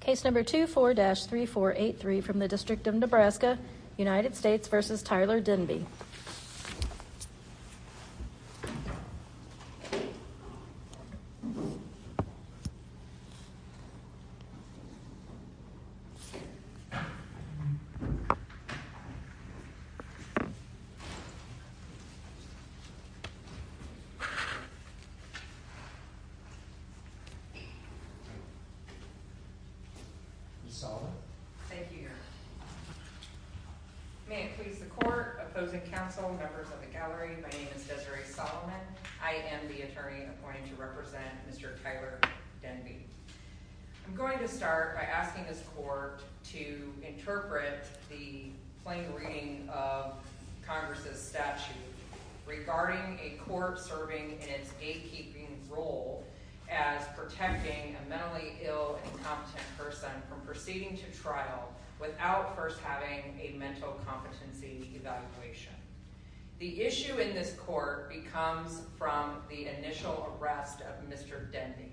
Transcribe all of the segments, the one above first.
Case number 24-3483 from the District of Nebraska, United States v. Tyler Denby. May it please the court, opposing counsel, members of the gallery, my name is Desiree Solomon. I am the attorney appointed to represent Mr. Tyler Denby. I'm going to start by asking this court to interpret the plain reading of Congress' statute regarding a court serving in its gatekeeping role as protecting a mentally ill and incompetent person from proceeding to trial without first having a mental competency evaluation. The issue in this court comes from the initial arrest of Mr. Denby.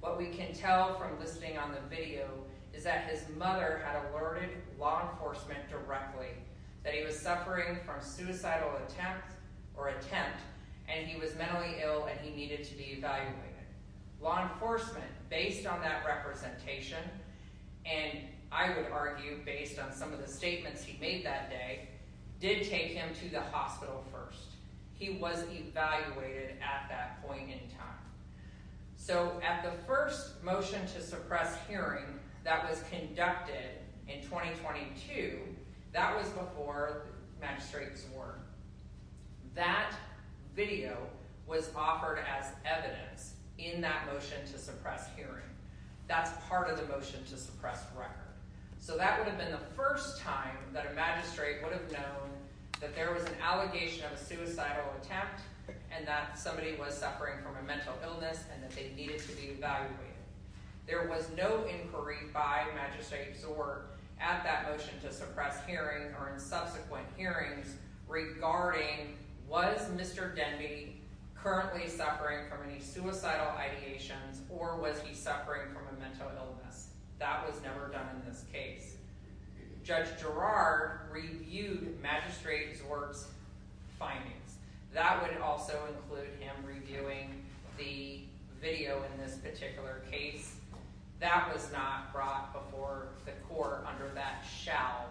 What we can tell from listening on the video is that his mother had alerted law enforcement directly that he was suffering from suicidal attempt or attempt, and he was mentally ill and he needed to be evaluated. Law enforcement, based on that representation, and I would argue based on some of the statements he made that day, did take him to the hospital first. He was evaluated at that point in time. So at the first motion to suppress hearing that was conducted in 2022, that was before Matt Magistrate Zor. That video was offered as evidence in that motion to suppress hearing. That's part of the motion to suppress record. So that would have been the first time that a magistrate would have known that there was an allegation of a suicidal attempt and that somebody was suffering from a mental illness and that they needed to be evaluated. There was no inquiry by Magistrate Zor at that motion to suppress hearing or in subsequent hearings regarding was Mr. Denby currently suffering from any suicidal ideations or was he suffering from a mental illness. That was never done in this case. Judge Gerard reviewed Magistrate Zor's findings. That would also include him reviewing the video in this particular case. That was not brought before the court under that shall.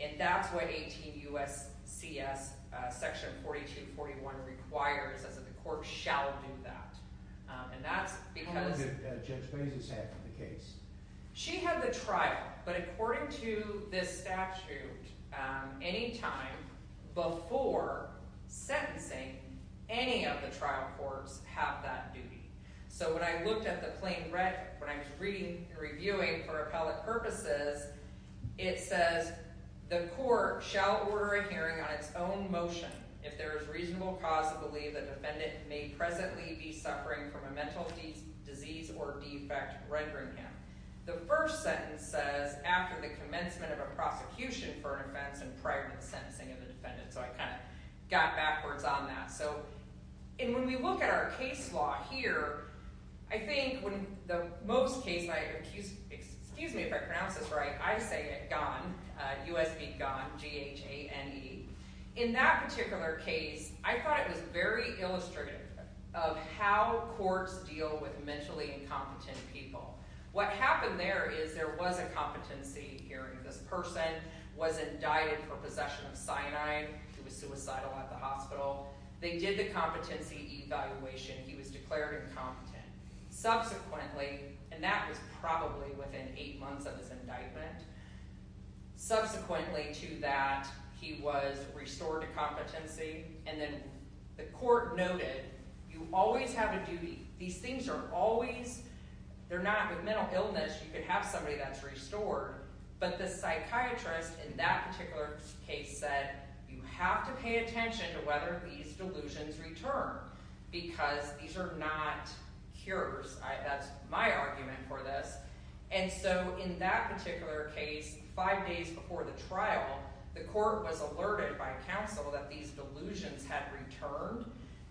And that's what 18 U.S. C.S. section 4241 requires, is that the court shall do that. And that's because Judge Bezos had the case. She had the trial. But according to this statute, any time before sentencing, any of the trial courts have that duty. So when I looked at the plain red, when I was reading and reviewing for appellate purposes, it says the court shall order a hearing on its own motion if there is reasonable cause to believe the defendant may presently be suffering from a mental disease or defect rendering him. The first sentence says after the commencement of a prosecution for an offense and prior to the sentencing of the defendant. So I kind of got backwards on that. And when we look at our case law here, I think when the most case, excuse me if I pronounce this right, I say it, gone, U.S.B. gone, G-H-A-N-E. In that particular case, I thought it was very illustrative of how courts deal with mentally incompetent people. What happened there is there was a competency hearing. This person was indicted for possession of cyanide. He was suicidal at the hospital. They did the competency evaluation. He was declared incompetent. Subsequently, and that was probably within eight months of his indictment, subsequently to that, he was restored to competency. And then the court noted you always have a duty. These things are always, they're not, with psychiatrists in that particular case said you have to pay attention to whether these delusions return because these are not cures. That's my argument for this. And so in that particular case, five days before the trial, the court was alerted by counsel that these delusions had returned.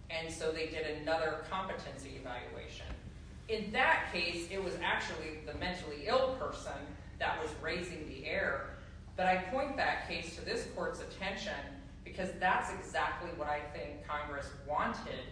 And so they did another competency evaluation. In that case, it was actually the mentally ill person that was raising the air. But I point that case to this court's attention because that's exactly what I think Congress wanted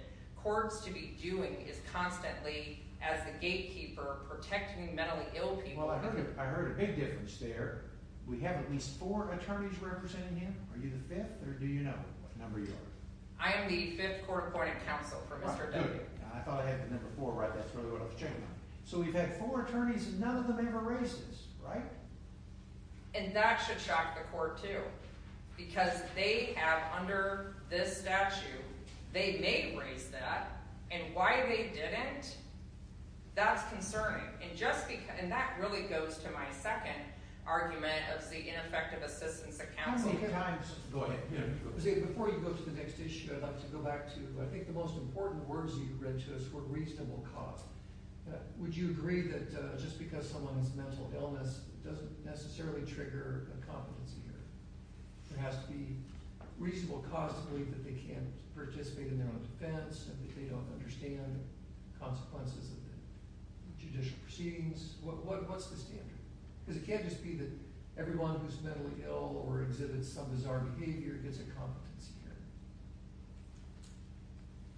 courts to be doing is constantly, as the gatekeeper, protecting mentally ill people. Well, I heard a big difference there. We have at least four attorneys representing you. Are you the fifth or do you know what number you are? I am the fifth court appointing counsel for Mr. W. I thought I had the number four, right? That's really what I was checking on. So we've had four attorneys and none of them ever raised this, right? And that should shock the court, too. Because they have under this statute, they may raise that. And why they didn't, that's concerning. And that really goes to my second argument of the ineffective assistance of counsel. Go ahead. Before you go to the next issue, I'd like to go back to, I think the most important words you read to us were reasonable cause. Would you agree that just because someone's mental illness doesn't necessarily trigger a competency error, there has to be reasonable cause to believe that they can't participate in their own defense and that they don't understand consequences of the judicial proceedings? What's the standard? Because it can't just be that everyone who's mentally ill or exhibits some bizarre behavior gets a competency error.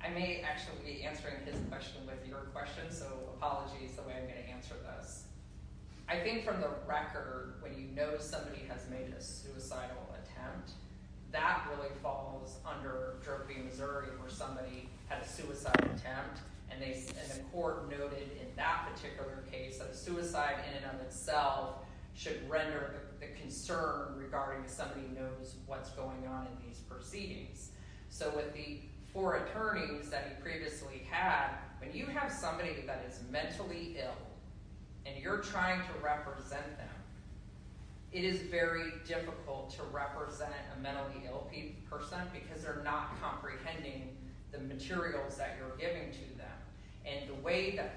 I may actually be answering his question with your question, so apologies, the way I'm going to answer this. I think from the record, when you know somebody has made a suicidal attempt, that really falls under trophy Missouri where somebody had a suicide attempt and the court noted in that particular case that a suicide in and of itself should render the concern regarding somebody knows what's going on in these proceedings. So with the four attorneys that you previously had, when you have somebody that is mentally ill and you're trying to represent them, it is very difficult to represent a mentally ill person because they're not comprehending the materials that you're giving to them. And the way that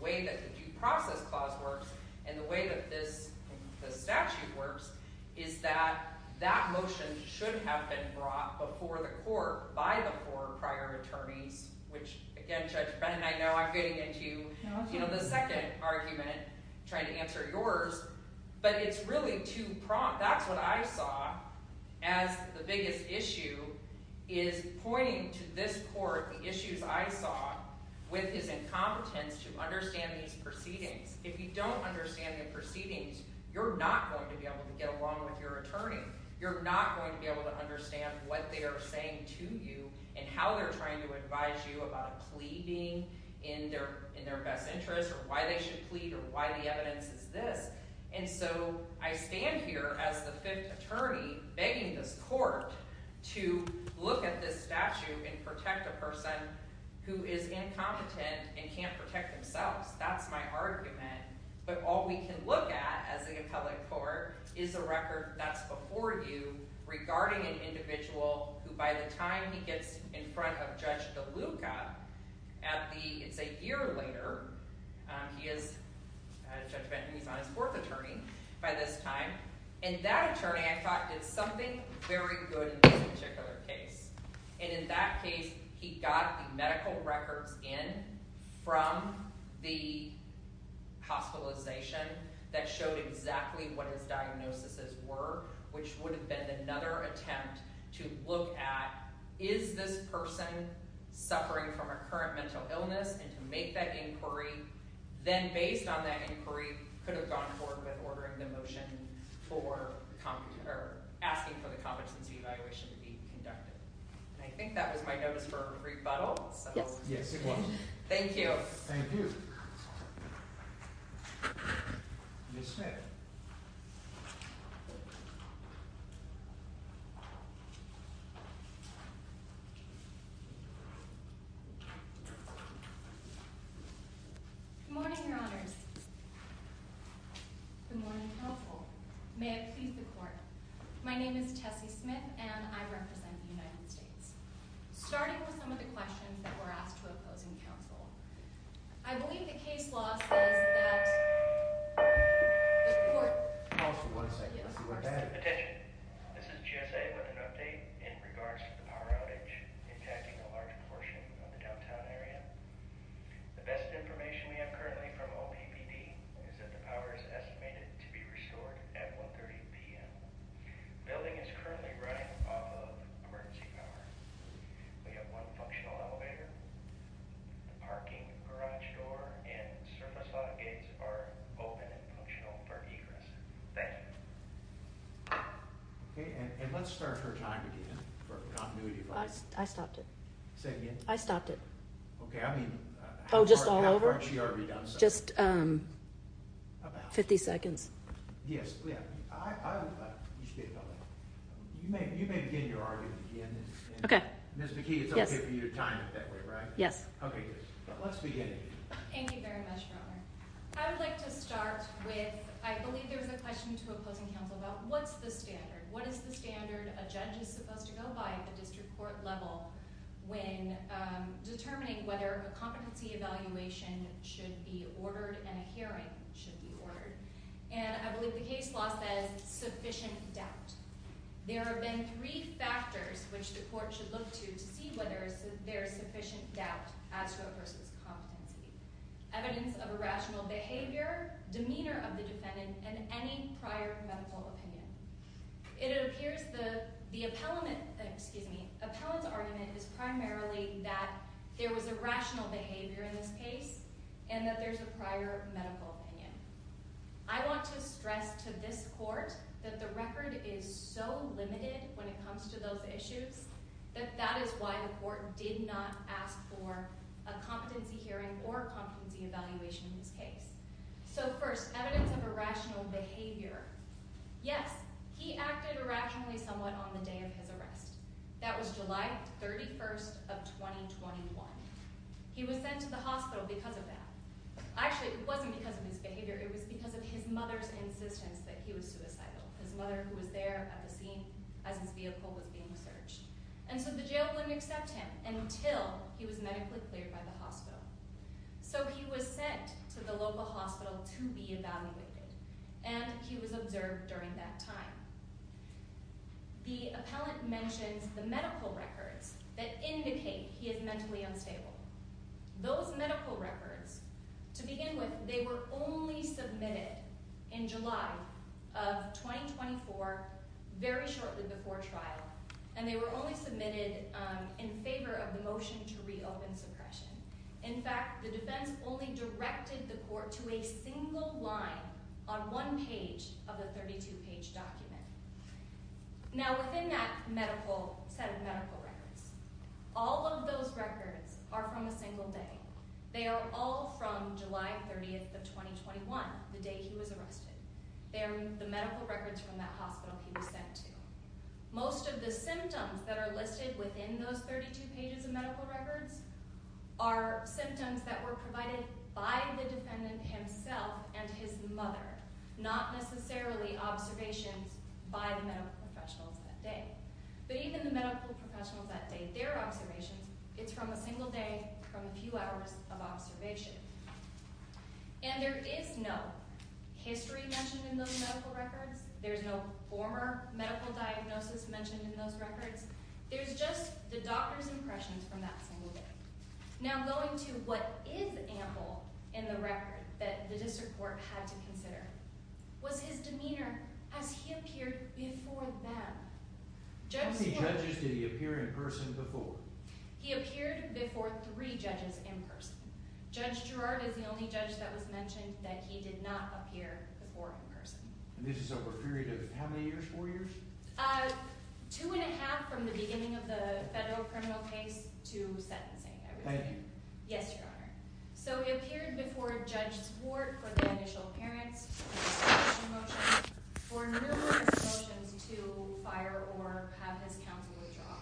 the due process clause works and the way that this statute works is that that motion should have been brought before the court by the four prior attorneys, which again, Judge Brennan, I know I'm getting into the second argument, trying to answer yours, but it's really too prompt. That's what I saw as the biggest issue is pointing to this court the issues I saw with his incompetence to understand these proceedings. If you don't understand the proceedings, you're not going to be able to get along with your attorney. You're not going to be able to understand what they are saying to you and how they're trying to advise you about a plea being in their best interest or why they should plead or why the evidence is this. And so I stand here as the fifth attorney begging this court to look at this statute and protect a person who is incompetent and can't protect themselves. That's my argument. But all we can look at as an appellate court is a record that's before you regarding an individual who by the time he gets in front of Judge DeLuca at the, it's a year later, he is, Judge Brennan, he's on his fourth attorney by this time. And that attorney, I thought, did something very good in this particular case. And in that case, he got the medical records in from the hospitalization that showed exactly what his diagnoses were, which would have been another attempt to look at, is this person suffering from a current mental illness and to make that inquiry, then based on that inquiry, could have gone forward with ordering the motion for asking for the competency evaluation to be conducted. And I think that was my notice for rebuttal. Yes, it was. Thank you. Thank you. Ms. Smith. Good morning, your honors. Good morning, counsel. May it please the court. My name is Tessie Smith, and I represent the United States. Starting with some of the questions that were asked to opposing counsel, I believe the case law says that... The court. Counsel, one second. Attention. This is GSA with an update in regards to the power outage impacting a large portion of the downtown area. The best information we have currently from OPPD is that the power is estimated to be restored at 1.30 p.m. The building is currently running off of emergency power. We have one functional elevator. The parking garage door and surface lock gates are open and functional for egress. Thank you. Okay, and let's start her time again for continuity. I stopped it. Say it again. I stopped it. Okay, I mean... Oh, just all over? How far had she already done so? Just... About. 50 seconds. Yes, yeah. You may begin your argument again. Ms. McKee, it's okay for you to time it that way, right? Yes. Okay, good. Let's begin. Thank you very much, Your Honor. I would like to start with, I believe there was a question to opposing counsel about what's the standard? What is the standard a judge is supposed to go by at the district court level when determining whether a competency evaluation should be ordered? And I believe the case law says sufficient doubt. There have been three factors which the court should look to to see whether there is sufficient doubt as to a person's competency. Evidence of irrational behavior, demeanor of the defendant, and any prior medical opinion. It appears the appellant's argument is primarily that there was irrational behavior in this medical opinion. I want to stress to this court that the record is so limited when it comes to those issues that that is why the court did not ask for a competency hearing or a competency evaluation in this case. So first, evidence of irrational behavior. Yes, he acted irrationally somewhat on the day of his arrest. That was July 31st of 2021. He was sent to the hospital because of that. Actually, it wasn't because of his behavior, it was because of his mother's insistence that he was suicidal. His mother, who was there at the scene as his vehicle was being searched. And so the jail wouldn't accept him until he was medically cleared by the hospital. So he was sent to the local hospital to be evaluated, and he was observed during that time. The appellant mentions the medical evidence table. Those medical records, to begin with, they were only submitted in July of 2024, very shortly before trial, and they were only submitted in favor of the motion to reopen suppression. In fact, the defense only directed the court to a single line on one page of the 32-page document. Now, within that medical set of medical records, all of those records are from a single day. They are all from July 30th of 2021, the day he was arrested. They are the medical records from that hospital he was sent to. Most of the symptoms that are listed within those 32 pages of medical records are symptoms that were provided by the defendant himself and his mother, not necessarily observations by the medical professionals that day. But even the medical professionals that day, their observations, it's from a single day from a few hours of observation. And there is no history mentioned in those medical records. There's no former medical diagnosis mentioned in those records. There's just the doctor's impressions from that single day. Now, going to what is ample in the record that the district court had to consider was his demeanor as he appeared before them. How many judges did he appear in person before? He appeared before three judges in person. Judge Girard is the only judge that was mentioned that he did not appear before in person. And this is over a period of how many years? Four years? Two and a half from the beginning of the federal criminal case to sentencing, I would say. Yes, Your Honor. So he appeared before Judge Swart for the initial appearance, for numerous motions to fire or have his counsel withdraw.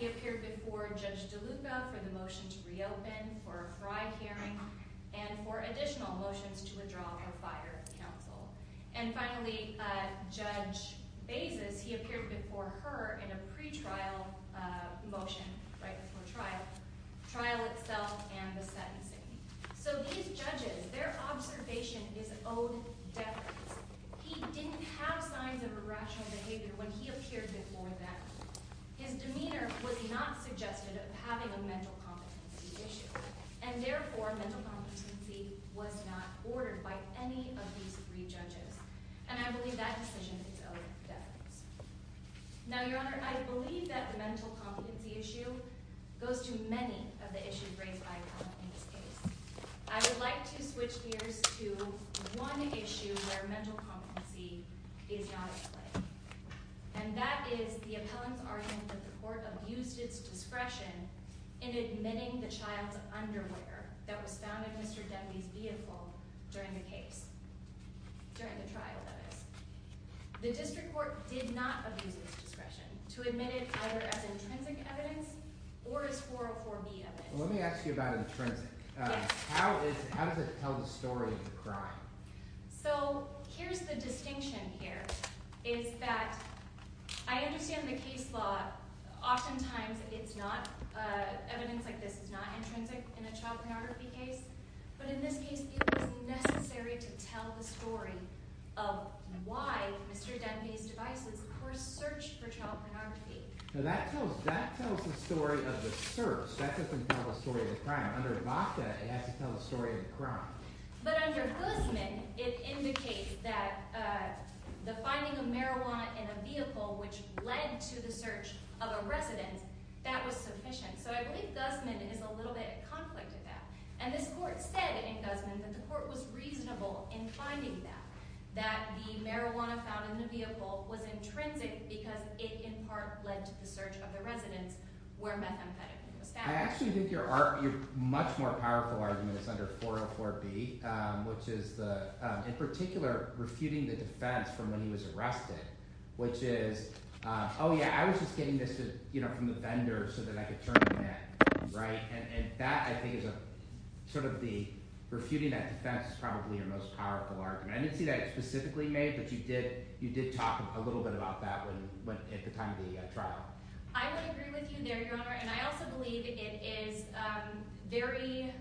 He appeared before Judge DeLuca for the motion to reopen, for a fry hearing, and for additional motions to withdraw or fire counsel. And finally, Judge Bezos, he appeared before her in a pretrial motion right before trial, trial itself and the sentencing. So these judges, their observation is owed deference. He didn't have signs of irrational behavior when he appeared before them. His demeanor was not suggested of having a mental competency issue. And therefore, mental competency was not ordered by any of the three judges. And I believe that decision is owed deference. Now, Your Honor, I believe that the mental competency issue goes to many of the issues raised by appellant in this case. I would like to switch gears to one issue where mental competency is not at play. And that is the appellant's argument that the court abused its discretion in admitting the child's underwear that was found in Mr. Denby's vehicle during the case. During the trial, that is. The district court did not abuse its discretion to admit it either as intrinsic evidence or as 404B evidence. Let me ask you about intrinsic. Yes. How does it tell the story of the crime? So, here's the distinction here, is that I understand in the case law, oftentimes it's not, evidence like this is not intrinsic in a child pornography case. But in this case, it is necessary to tell the story of why Mr. Denby's devices were searched for child pornography. Now, that tells the story of the search. That doesn't tell the story of the crime. Under VACTA, it has to tell the story of the crime. But under Guzman, it indicates that the finding of marijuana in a vehicle which led to the search of a residence, that was sufficient. So I believe Guzman is a little bit in conflict with that. And this court said in Guzman that the court was reasonable in finding that, that the marijuana found in the vehicle was intrinsic because it in part led to the search of the residence where methamphetamine was found. I actually think your much more powerful argument is under 404B, which is the, in particular, refuting the defense from when he was arrested, which is, oh yeah, I was just getting this, you know, from the vendor so that I could turn him in, right? And that I think is a, sort of the, refuting that defense is probably your most powerful argument. I didn't see that specifically made, but you did, you did talk a little bit about that when, at the time of the trial. I would agree with you there, your honor, and I also believe it is very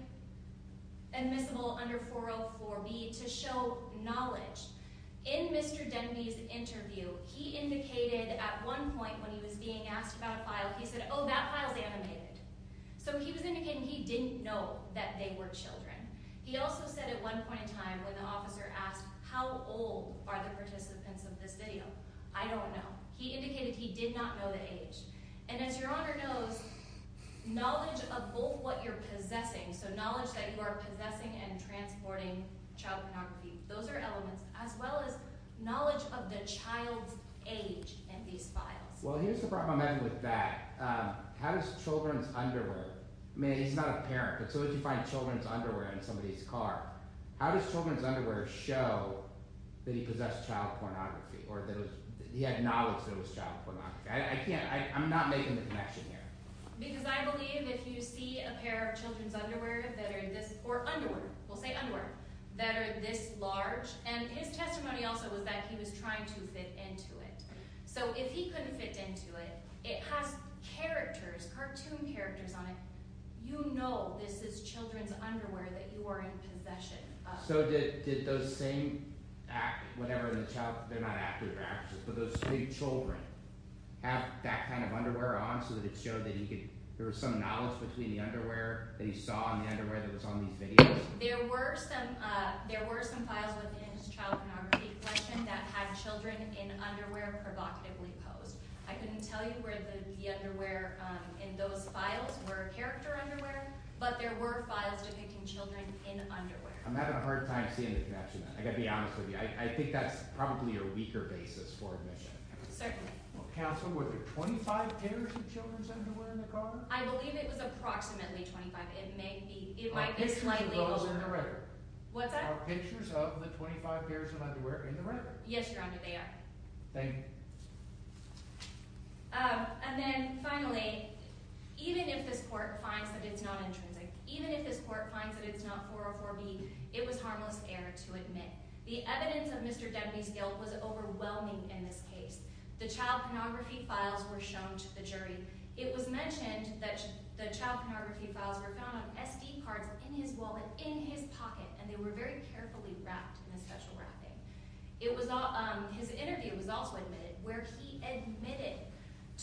admissible under 404B to show knowledge. In Mr. Denby's interview, he indicated at one point when he was being asked about a file, he said, oh, that file's animated. So he was indicating he didn't know that they were children. He also said at one point in time when the officer asked, how old are the participants of this video? I don't know. He indicated he did not know the age. And as your honor knows, knowledge of both what you're possessing, so knowledge that you are possessing and transporting child pornography, those are elements, as well as knowledge of the child's age in these files. Well, here's the problem with that. How does children's underwear, I mean, he's not a parent, but so if you find children's underwear in somebody's car, how does children's underwear show that he possessed child pornography, or that he had knowledge that it was child inflection here? Because I believe if you see a pair of children's underwear that are this, or underwear, we'll say underwear, that are this large, and his testimony also was that he was trying to fit into it. So if he couldn't fit into it, it has characters, cartoon characters on it. You know this is children's underwear that you are in possession of. So did those same, whatever the child, they're not actors, they're actresses, but those big children have that kind of underwear on so that it showed that there was some knowledge between the underwear that he saw and the underwear that was on these videos? There were some files within his child pornography collection that had children in underwear provocatively posed. I couldn't tell you where the underwear in those files were character underwear, but there were files depicting children in underwear. I'm having a hard time seeing the connection. I've got to be honest with you. I think that's probably a weaker basis for admission. Certainly. Counsel, were there 25 pairs of children's underwear in the car? I believe it was approximately 25. It might be slightly... Are pictures of those in the record? What's that? Are pictures of the 25 pairs of underwear in the record? Yes, Your Honor, they are. Thank you. And then finally, even if this court finds that it's not intrinsic, even if this court finds that it's not 404B, it was harmless error to admit. The evidence of Mr. Demby's guilt was overwhelming in this case. The child pornography files were shown to the jury. It was mentioned that the child pornography files were found on SD cards in his wallet, in his pocket, and they were very carefully wrapped in a special wrapping. His interview was also admitted, where he admitted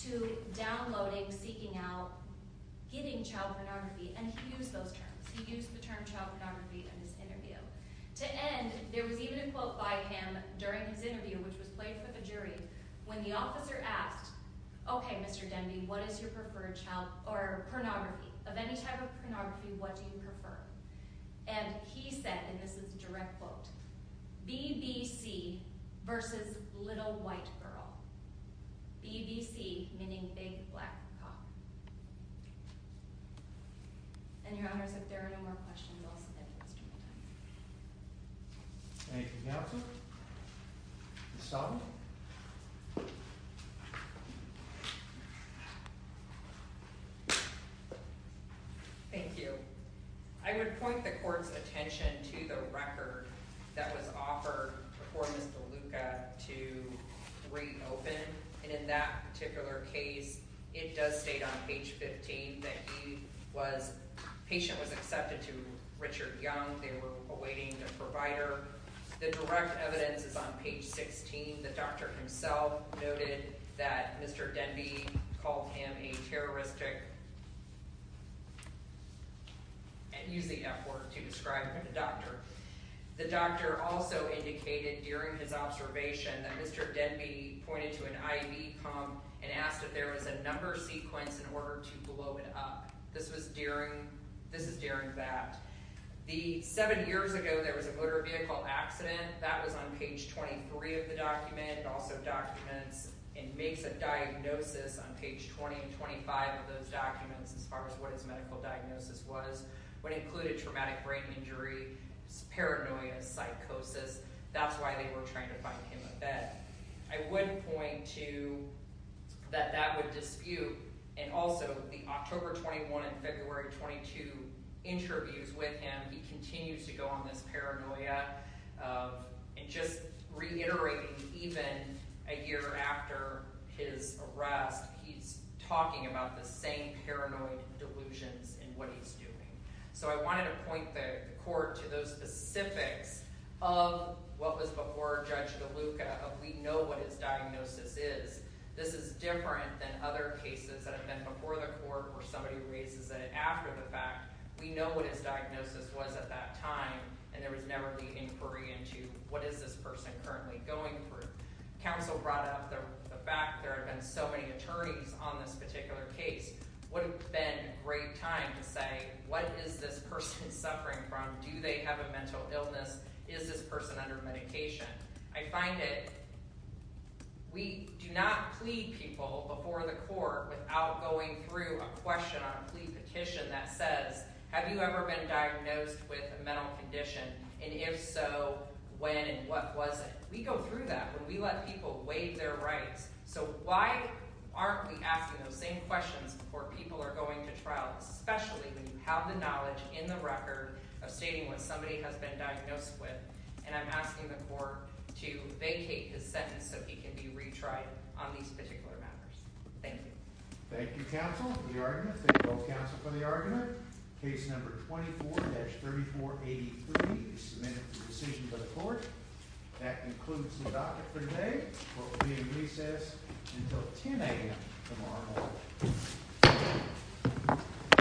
to downloading, seeking out, getting used to the term child pornography in his interview. To end, there was even a quote by him during his interview, which was played for the jury, when the officer asked, Okay, Mr. Demby, what is your preferred child pornography? Of any type of pornography, what do you prefer? And he said, and this is a direct quote, BBC versus little white girl. BBC meaning big black cop. And your honors, if there are no more questions, I'll submit for the rest of my time. Thank you, counsel. Ms. Stolten. Thank you. I would point the court's attention to the record that was offered for Mr. Luca to reopen, and in that particular case, it does state on page 15 that he was, patient was accepted to Richard Young. They were awaiting a provider. The direct evidence is on page 16. The doctor himself noted that Mr. Demby called him a terroristic, and used the F word to describe him, a doctor. The doctor also indicated during his observation that Mr. Demby pointed to an IV pump and asked if there was a number sequence in order to blow it up. This was during, this is during that. The seven years ago there was a motor vehicle accident, that was on page 23 of the document, also documents, and makes a diagnosis on page 20 and 25 of those documents, as far as what his medical diagnosis was. What included traumatic brain injury, paranoia, psychosis. That's why they were trying to find him a bed. I would point to that that would dispute, and also the October 21 and February 22 interviews with him, he continues to go on this paranoia, and just reiterating even a year after his arrest, he's talking about the same paranoid delusions in what he's doing. So I wanted to point the court to those specifics of what was before Judge DeLuca, of we know what his diagnosis is. This is different than other cases that have been before the court, or somebody raises it after the fact. We know what his diagnosis was at that time, and there was never the inquiry into what is this person currently going through. Counsel brought up the fact there had been so many attorneys on this particular case. Would have been a great time to say, what is this person suffering from? Do they have a mental illness? Is this person under medication? I find that we do not plead people before the court without going through a question on a plea petition that says, have you ever been diagnosed with a mental condition? And if so, when and what was it? We go through that when we let people waive their rights. So why aren't we asking those same questions before people are going to trial, especially when you have the knowledge in the record of stating what somebody has been diagnosed with? And I'm asking the court to vacate his sentence so he can be retried on these particular matters. Thank you. Thank you, counsel, for the argument. Thank you both, counsel, for the argument. Case number 24-3483 is submitted for decision by the court. That concludes the docket for today. Court will be in recess until 10 a.m. tomorrow morning.